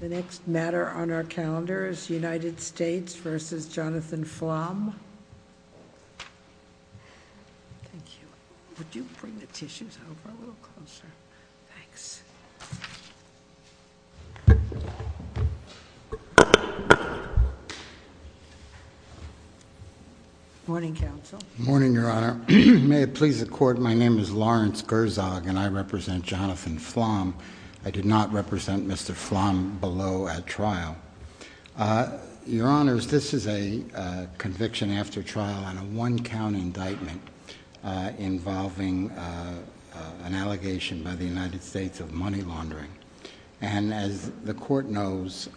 The next matter on our calendar is United States v. Jonathan Flom. Thank you. Would you bring the tissues over a little closer? Thanks. Morning, Counsel. Morning, Your Honor. May it please the Court, my name is Lawrence Gerzog and I represent Jonathan Flom. I did not represent Mr. Flom below at trial. Your Honors, this is a conviction after trial on a one-count indictment involving an allegation by the United States of money laundering. And as the Court knows,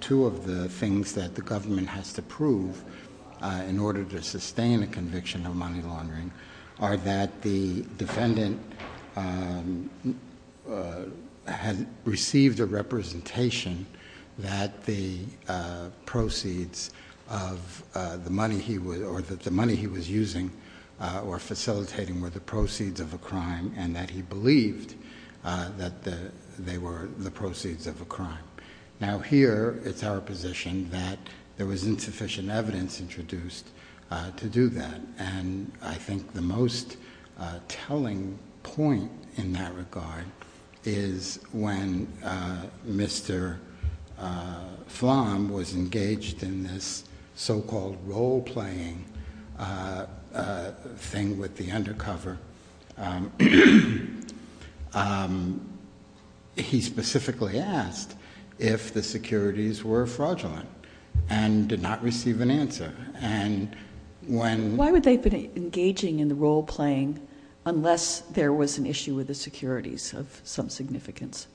two of the things that the government has to prove in order to sustain a conviction of money laundering are that the defendant had received a representation that the proceeds of the money he was using or facilitating were the proceeds of a crime and that he believed that they were the proceeds of a crime. Now here, it's our position that there was insufficient evidence introduced to do that. And I think the most telling point in that regard is when Mr. Flom was engaged in this so-called role-playing thing with the undercover. He specifically asked if the securities were fraudulent and did not receive an answer. Why would they have been engaging in the role-playing unless there was an issue with the securities of some significance?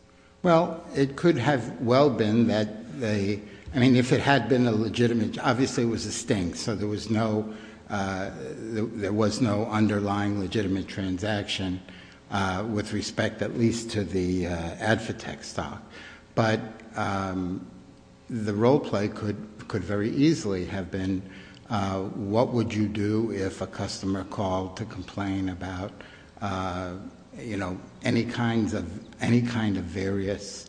Well, it could have well been that they, I mean, if it had been a legitimate, obviously it was a stink. So there was no underlying legitimate transaction with respect at least to the AdvoTech stock. But the role-play could very easily have been what would you do if a customer called to complain about any kind of various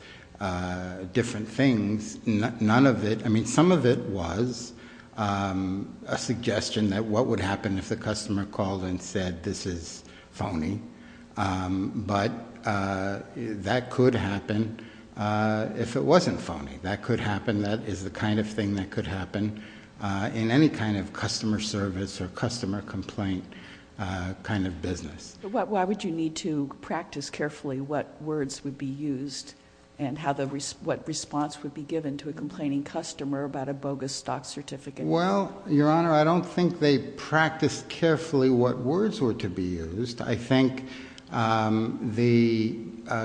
different things. None of it, I mean, some of it was a suggestion that what would happen if the customer called and said this is phony. But that could happen if it wasn't phony. That could happen, that is the kind of thing that could happen in any kind of customer service or customer complaint kind of business. Why would you need to practice carefully what words would be used and what response would be given to a complaining customer about a bogus stock certificate? Well, Your Honor, I don't think they practiced carefully what words were to be used. I think the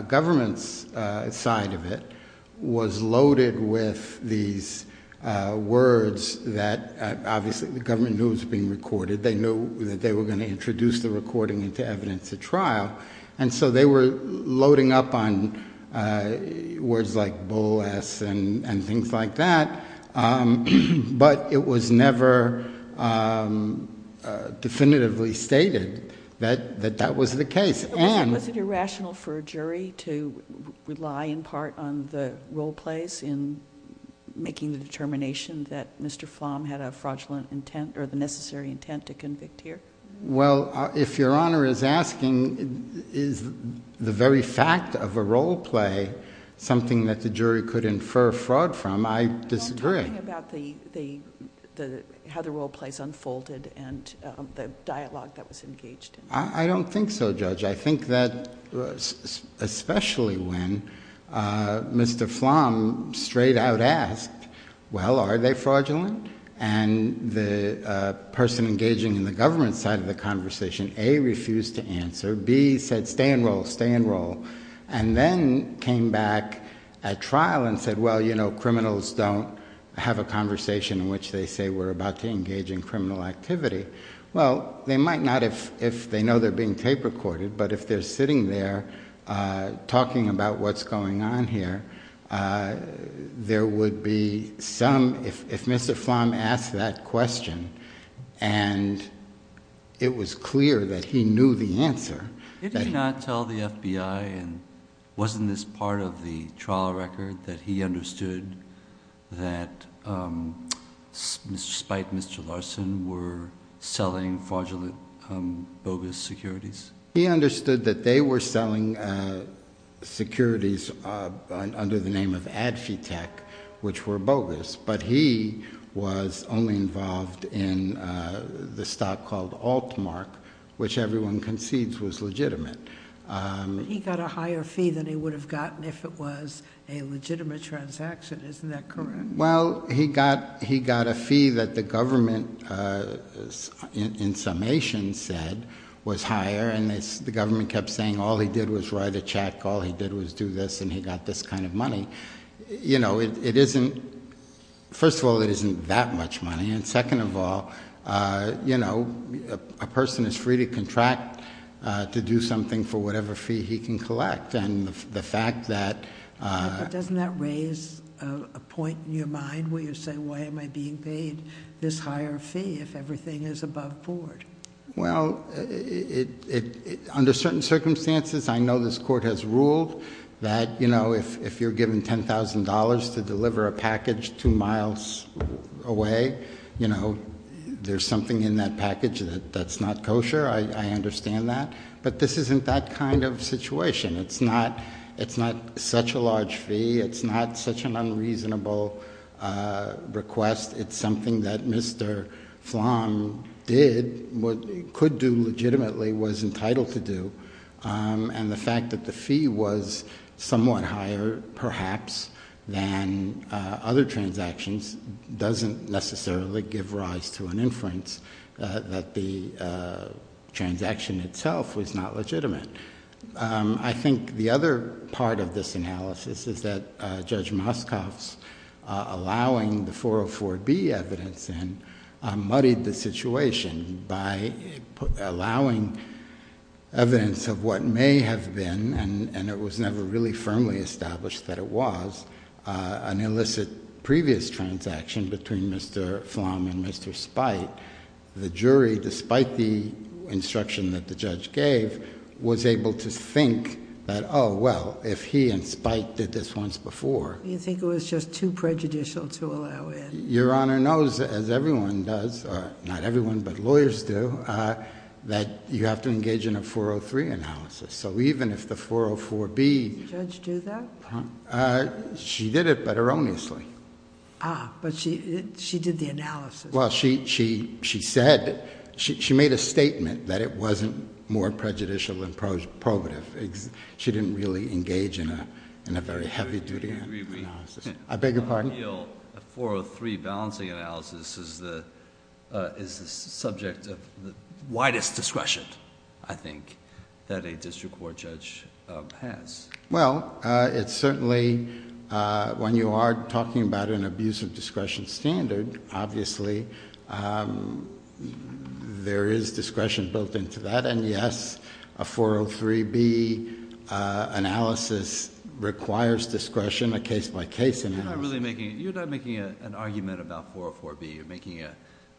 government's side of it was loaded with these words that obviously the government knew was being recorded. They knew that they were going to introduce the recording into evidence at trial. And so they were loading up on words like bull-ass and things like that. But it was never definitively stated that that was the case. Was it irrational for a jury to rely in part on the role-plays in making the determination that Mr. Flom had a fraudulent intent or the necessary intent to convict here? Well, if Your Honor is asking is the very fact of a role-play something that the jury could infer fraud from, I disagree. I'm talking about how the role-plays unfolded and the dialogue that was engaged. I don't think so, Judge. I think that especially when Mr. Flom straight-out asked, well, are they fraudulent? And the person engaging in the government's side of the conversation, A, refused to answer. B said, stay in role, stay in role. And then came back at trial and said, well, you know, criminals don't have a conversation in which they say we're about to engage in criminal activity. Well, they might not if they know they're being tape-recorded, but if they're sitting there talking about what's going on here, there would be some, if Mr. Flom asked that question and it was clear that he knew the answer. Did he not tell the FBI, and wasn't this part of the trial record, that he understood that despite Mr. Larson were selling fraudulent, bogus securities? He understood that they were selling securities under the name of Adfitech, which were bogus. But he was only involved in the stock called Altmark, which everyone concedes was legitimate. But he got a higher fee than he would have gotten if it was a legitimate transaction. Isn't that correct? Well, he got a fee that the government in summation said was higher, and the government kept saying all he did was write a check, all he did was do this, and he got this kind of money. First of all, it isn't that much money, and second of all, a person is free to contract to do something for whatever fee he can collect. But doesn't that raise a point in your mind where you say, why am I being paid this higher fee if everything is above board? Well, under certain circumstances, I know this court has ruled that if you're given $10,000 to deliver a package two miles away, there's something in that package that's not kosher. I understand that. But this isn't that kind of situation. It's not such a large fee. It's not such an unreasonable request. It's something that Mr. Flom did, could do legitimately, was entitled to do. And the fact that the fee was somewhat higher perhaps than other transactions doesn't necessarily give rise to an inference that the transaction itself was not legitimate. I think the other part of this analysis is that Judge Moscoff's allowing the 404B evidence in muddied the situation by allowing evidence of what may have been, and it was never really firmly established that it was, an illicit previous transaction between Mr. Flom and Mr. Spite. The jury, despite the instruction that the judge gave, was able to think that, oh, well, if he and Spite did this once before. You think it was just too prejudicial to allow in? Your Honor knows, as everyone does, not everyone, but lawyers do, that you have to engage in a 403 analysis. So even if the 404B... Did the judge do that? She did it but erroneously. Ah, but she did the analysis. Well, she said, she made a statement that it wasn't more prejudicial than probative. She didn't really engage in a very heavy duty analysis. I beg your pardon? I feel a 403 balancing analysis is the subject of the widest discretion, I think, that a district court judge has. Well, it's certainly, when you are talking about an abuse of discretion standard, obviously, there is discretion built into that. And, yes, a 403B analysis requires discretion, a case-by-case analysis. You're not really making, you're not making an argument about 404B, you're making an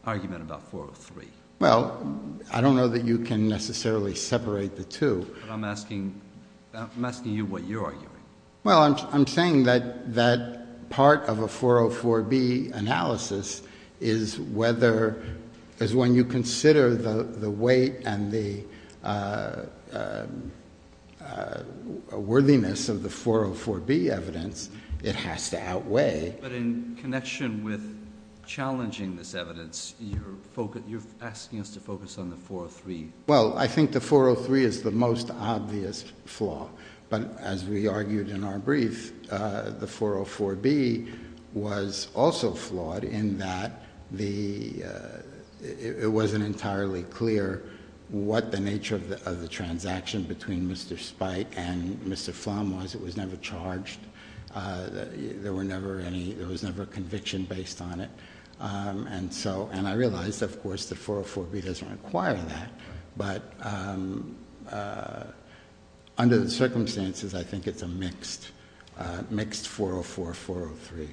argument about 403. Well, I don't know that you can necessarily separate the two. But I'm asking you what you're arguing. Well, I'm saying that part of a 404B analysis is whether, is when you consider the weight and the worthiness of the 404B evidence, it has to outweigh... But in connection with challenging this evidence, you're asking us to focus on the 403. Well, I think the 403 is the most obvious flaw. But as we argued in our brief, the 404B was also flawed in that the, it wasn't entirely clear what the nature of the transaction between Mr. Spike and Mr. Flum was. It was never charged. There were never any, there was never a conviction based on it. And so, and I realize, of course, that 404B doesn't require that. But under the circumstances, I think it's a mixed, mixed 404, 403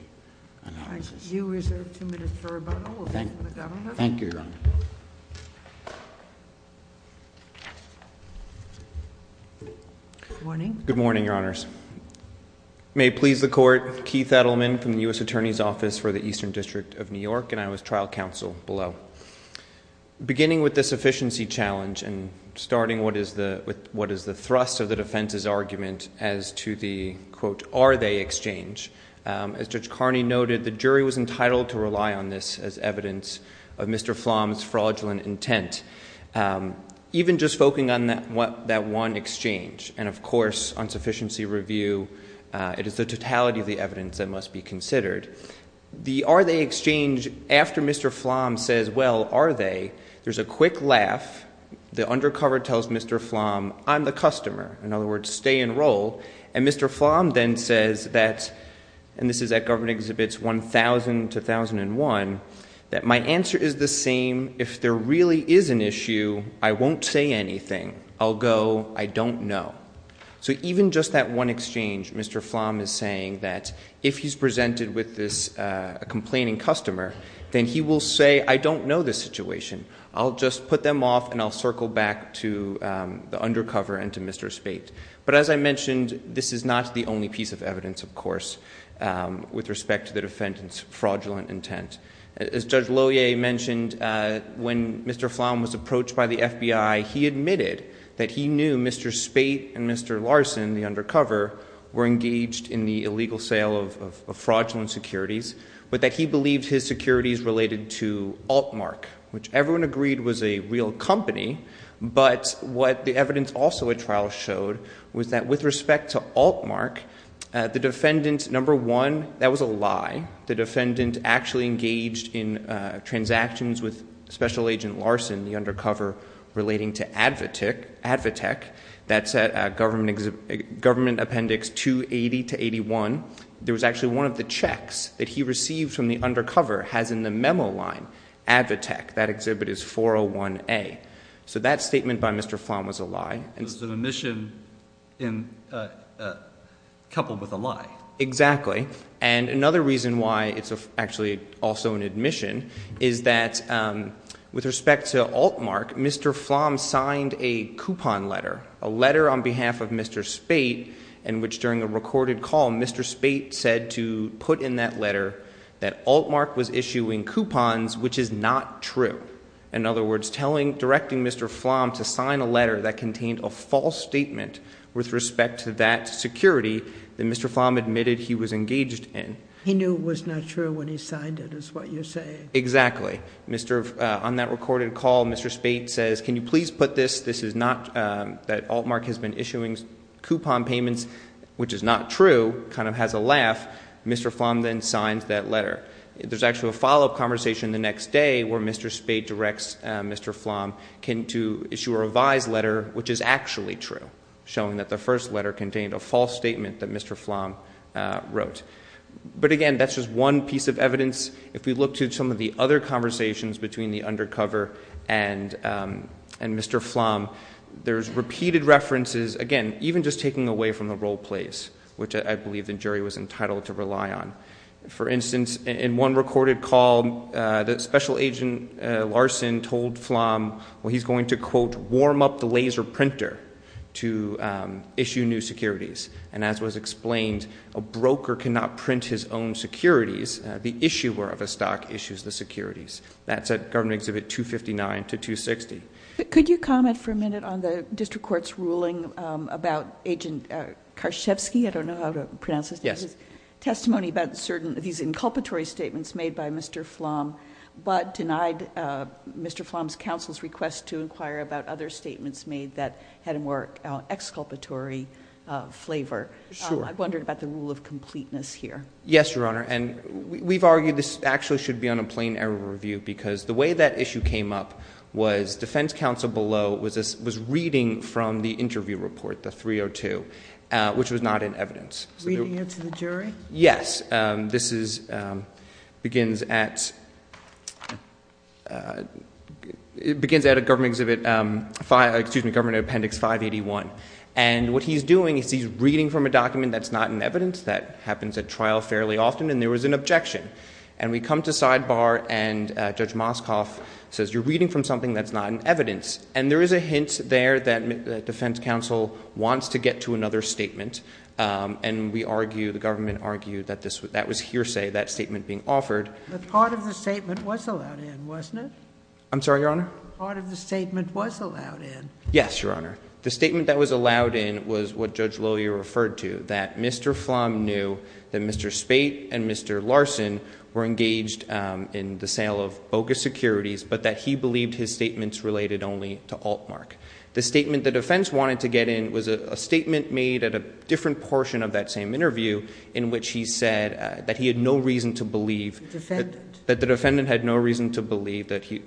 analysis. All right. You reserve two minutes for rebuttal. We'll go to the Governor. Thank you, Your Honor. Good morning. Good morning, Your Honors. May it please the Court. Keith Edelman from the U.S. Attorney's Office for the Eastern District of New York, and I was trial counsel below. Beginning with the sufficiency challenge and starting with what is the thrust of the defense's argument as to the, quote, are they exchange. As Judge Carney noted, the jury was entitled to rely on this as evidence of Mr. Flum's fraudulent intent. Even just focusing on that one exchange, and, of course, on sufficiency review, it is the totality of the evidence that must be considered. The are they exchange, after Mr. Flum says, well, are they, there's a quick laugh. The undercover tells Mr. Flum, I'm the customer. In other words, stay and roll. And Mr. Flum then says that, and this is at Government Exhibits 1000 to 1001, that my answer is the same. If there really is an issue, I won't say anything. I'll go, I don't know. So even just that one exchange, Mr. Flum is saying that if he's presented with this complaining customer, then he will say, I don't know this situation. I'll just put them off and I'll circle back to the undercover and to Mr. Spate. But as I mentioned, this is not the only piece of evidence, of course, with respect to the defendant's fraudulent intent. As Judge Lohier mentioned, when Mr. Flum was approached by the FBI, he admitted that he knew Mr. Spate and Mr. Larson, the undercover, were engaged in the illegal sale of fraudulent securities. But that he believed his securities related to Altmark, which everyone agreed was a real company. But what the evidence also at trial showed was that with respect to Altmark, the defendant, number one, that was a lie. The defendant actually engaged in transactions with Special Agent Larson, the undercover, relating to AdvoTech. That's at Government Appendix 280 to 81. There was actually one of the checks that he received from the undercover has in the memo line AdvoTech. That exhibit is 401A. So that statement by Mr. Flum was a lie. It was an admission coupled with a lie. Exactly. And another reason why it's actually also an admission is that with respect to Altmark, Mr. Flum signed a coupon letter, a letter on behalf of Mr. Spate, in which during a recorded call, Mr. Spate said to put in that letter that Altmark was issuing coupons, which is not true. In other words, directing Mr. Flum to sign a letter that contained a false statement with respect to that security that Mr. Flum admitted he was engaged in. He knew it was not true when he signed it, is what you're saying. Exactly. On that recorded call, Mr. Spate says, can you please put this? This is not that Altmark has been issuing coupon payments, which is not true, kind of has a laugh. Mr. Flum then signs that letter. There's actually a follow-up conversation the next day where Mr. Spate directs Mr. Flum to issue a revised letter, which is actually true, showing that the first letter contained a false statement that Mr. Flum wrote. But again, that's just one piece of evidence. If we look to some of the other conversations between the undercover and Mr. Flum, there's repeated references, again, even just taking away from the role plays, which I believe the jury was entitled to rely on. For instance, in one recorded call, Special Agent Larson told Flum, well, he's going to, quote, warm up the laser printer to issue new securities. And as was explained, a broker cannot print his own securities. The issuer of a stock issues the securities. That's at Government Exhibit 259 to 260. Could you comment for a minute on the district court's ruling about Agent Karszewski? I don't know how to pronounce his name. Yes. Testimony about certain of these inculpatory statements made by Mr. Flum, but denied Mr. Flum's counsel's request to inquire about other statements made that had a more exculpatory flavor. Sure. I wondered about the rule of completeness here. Yes, Your Honor, and we've argued this actually should be on a plain error review, because the way that issue came up was defense counsel below was reading from the interview report, the 302, which was not in evidence. Reading it to the jury? Yes. This begins at Government Appendix 581. And what he's doing is he's reading from a document that's not in evidence. That happens at trial fairly often, and there was an objection. And we come to sidebar, and Judge Moskoff says, you're reading from something that's not in evidence. And there is a hint there that defense counsel wants to get to another statement, and we argue, the government argued that that was hearsay, that statement being offered. But part of the statement was allowed in, wasn't it? I'm sorry, Your Honor? Part of the statement was allowed in. Yes, Your Honor. The statement that was allowed in was what Judge Loyer referred to, that Mr. Flum knew that Mr. Spate and Mr. Larson were engaged in the sale of bogus securities, but that he believed his statements related only to Altmark. The statement the defense wanted to get in was a statement made at a different portion of that same interview in which he said that he had no reason to believe that the defendant had no reason to believe that his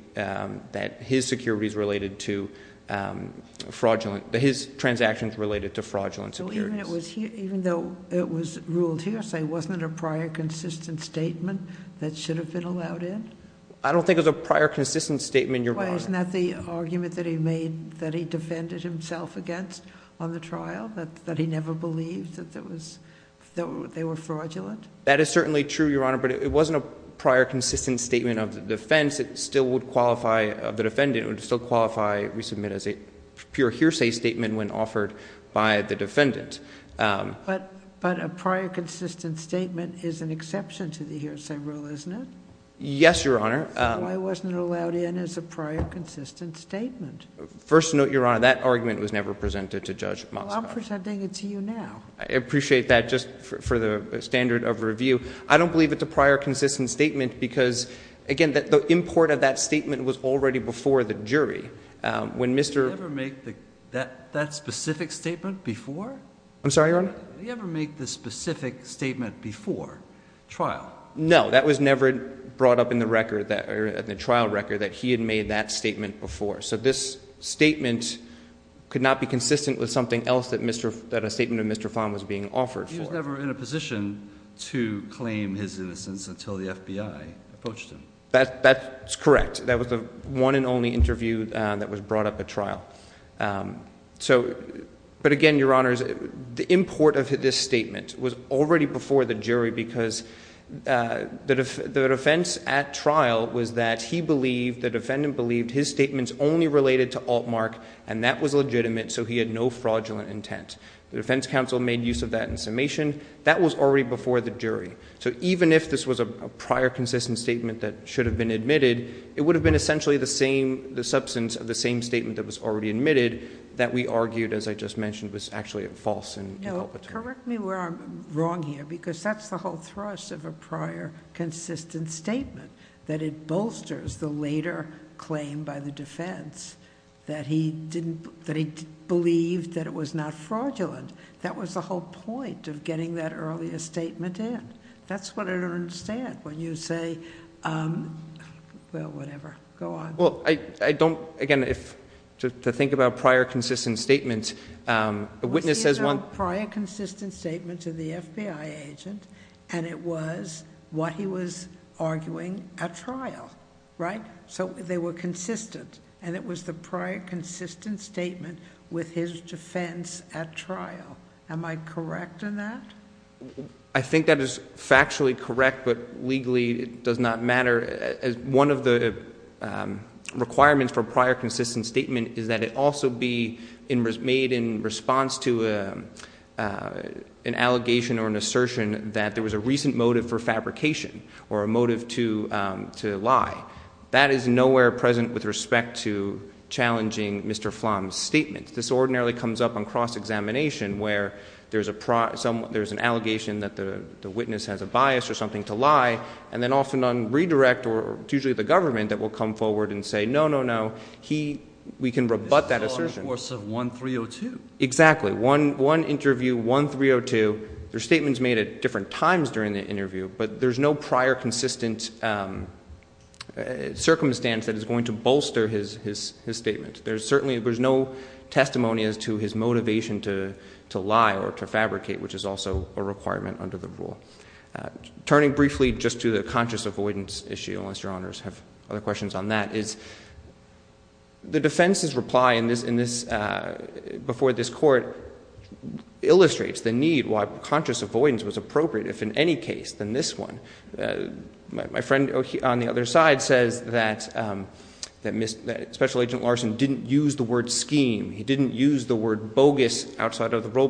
transactions related to fraudulent securities. Even though it was ruled hearsay, wasn't it a prior consistent statement that should have been allowed in? I don't think it was a prior consistent statement, Your Honor. Wasn't that the argument that he made that he defended himself against on the trial, that he never believed that they were fraudulent? That is certainly true, Your Honor, but it wasn't a prior consistent statement of the defense. It still would qualify of the defendant. It would still qualify resubmit as a pure hearsay statement when offered by the defendant. But a prior consistent statement is an exception to the hearsay rule, isn't it? Yes, Your Honor. So why wasn't it allowed in as a prior consistent statement? First note, Your Honor, that argument was never presented to Judge Moskowitz. Well, I'm presenting it to you now. I appreciate that. Just for the standard of review, I don't believe it's a prior consistent statement because, again, the import of that statement was already before the jury when Mr. Did he ever make that specific statement before? I'm sorry, Your Honor? Did he ever make the specific statement before trial? No, that was never brought up in the trial record that he had made that statement before. So this statement could not be consistent with something else that a statement of Mr. Fahn was being offered for. He was never in a position to claim his innocence until the FBI approached him. That's correct. That was the one and only interview that was brought up at trial. But again, Your Honors, the import of this statement was already before the jury because the defense at trial was that he believed, the defendant believed his statements only related to Altmark, and that was legitimate, so he had no fraudulent intent. The defense counsel made use of that in summation. That was already before the jury. So even if this was a prior consistent statement that should have been admitted, it would have been essentially the substance of the same statement that was already admitted, that we argued, as I just mentioned, was actually false and inculpatory. No, correct me where I'm wrong here, because that's the whole thrust of a prior consistent statement, that it bolsters the later claim by the defense that he believed that it was not fraudulent. That was the whole point of getting that earlier statement in. That's what I don't understand when you say... well, whatever. Go on. Well, I don't... again, to think about prior consistent statements, a witness says one... It was a prior consistent statement to the FBI agent, and it was what he was arguing at trial, right? So they were consistent, and it was the prior consistent statement with his defense at trial. Am I correct in that? I think that is factually correct, but legally it does not matter. One of the requirements for a prior consistent statement is that it also be made in response to an allegation or an assertion that there was a recent motive for fabrication or a motive to lie. That is nowhere present with respect to challenging Mr. Flom's statement. This ordinarily comes up on cross-examination where there's an allegation that the witness has a bias or something to lie, and then often on redirect, or it's usually the government that will come forward and say, no, no, no, he... We can rebut that assertion. This is all in the course of 1302. Exactly. One interview, 1302. Their statement is made at different times during the interview, but there's no prior consistent circumstance that is going to bolster his statement. There's certainly... there's no testimony as to his motivation to lie or to fabricate, which is also a requirement under the rule. Turning briefly just to the conscious avoidance issue, unless Your Honors have other questions on that, is the defense's reply in this... before this court illustrates the need why conscious avoidance was appropriate, if in any case, than this one. My friend on the other side says that Special Agent Larson didn't use the word scheme. He didn't use the word bogus outside of the role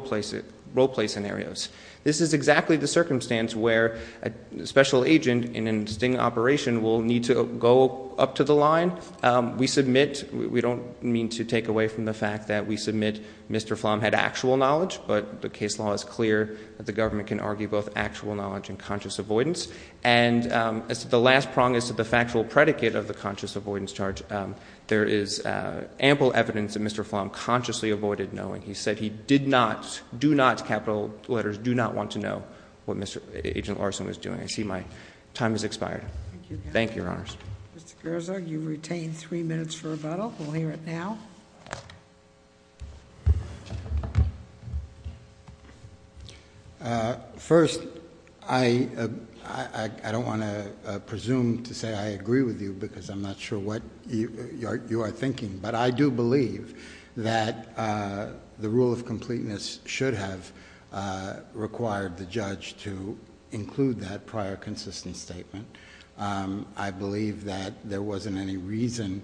play scenarios. This is exactly the circumstance where a special agent in a sting operation will need to go up to the line. We submit... we don't mean to take away from the fact that we submit Mr. Flom had actual knowledge, but the case law is clear that the government can argue both actual knowledge and conscious avoidance. And the last prong is to the factual predicate of the conscious avoidance charge. There is ample evidence that Mr. Flom consciously avoided knowing. He said he did not... do not... capital letters... do not want to know what Mr. Agent Larson was doing. I see my time has expired. Thank you, Your Honors. Mr. Gerza, you've retained three minutes for rebuttal. We'll hear it now. First, I don't want to presume to say I agree with you because I'm not sure what you are thinking, but I do believe that the rule of completeness should have required the judge to include that prior consistent statement. I believe that there wasn't any reason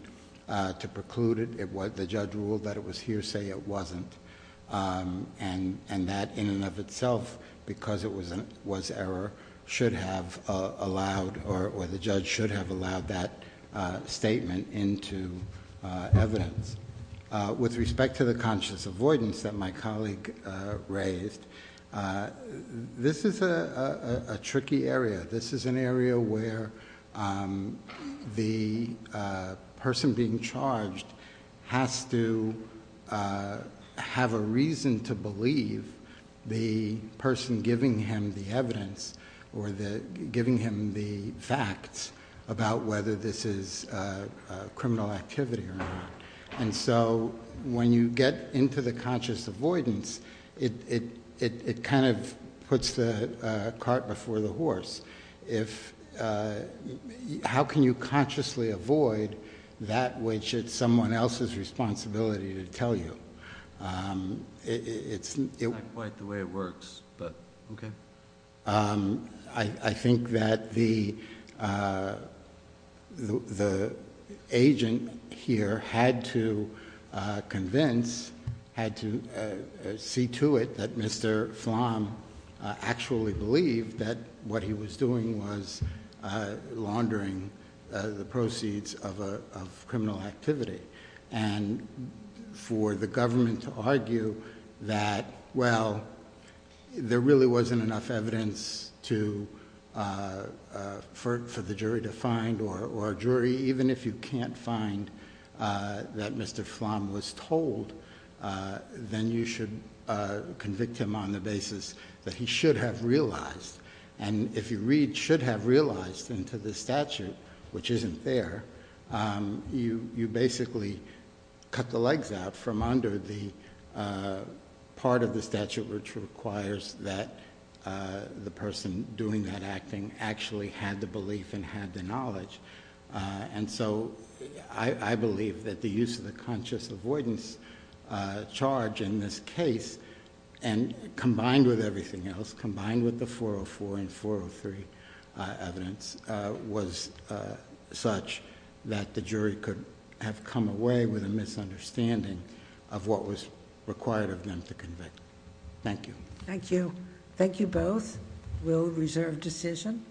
to preclude it. The judge ruled that it was hearsay. It wasn't. And that in and of itself, because it was error, should have allowed... or the judge should have allowed that statement into evidence. With respect to the conscious avoidance that my colleague raised, this is a tricky area. This is an area where the person being charged has to have a reason to believe the person giving him the evidence or giving him the facts about whether this is criminal activity or not. And so when you get into the conscious avoidance, it kind of puts the cart before the horse. How can you consciously avoid that which it's someone else's responsibility to tell you? It's not quite the way it works, but okay. I think that the agent here had to convince... had to see to it that Mr. Flom actually believed that what he was doing was laundering the proceeds of criminal activity. And for the government to argue that, well, there really wasn't enough evidence for the jury to find... or a jury, even if you can't find that Mr. Flom was told, then you should convict him on the basis that he should have realized. And if you should have realized into the statute, which isn't there, you basically cut the legs out from under the part of the statute which requires that the person doing that acting actually had the belief and had the knowledge. And so I believe that the use of the conscious avoidance charge in this case... and combined with everything else, combined with the 404 and 403 evidence... was such that the jury could have come away with a misunderstanding of what was required of them to convict. Thank you. Thank you. Thank you both. We'll reserve decision.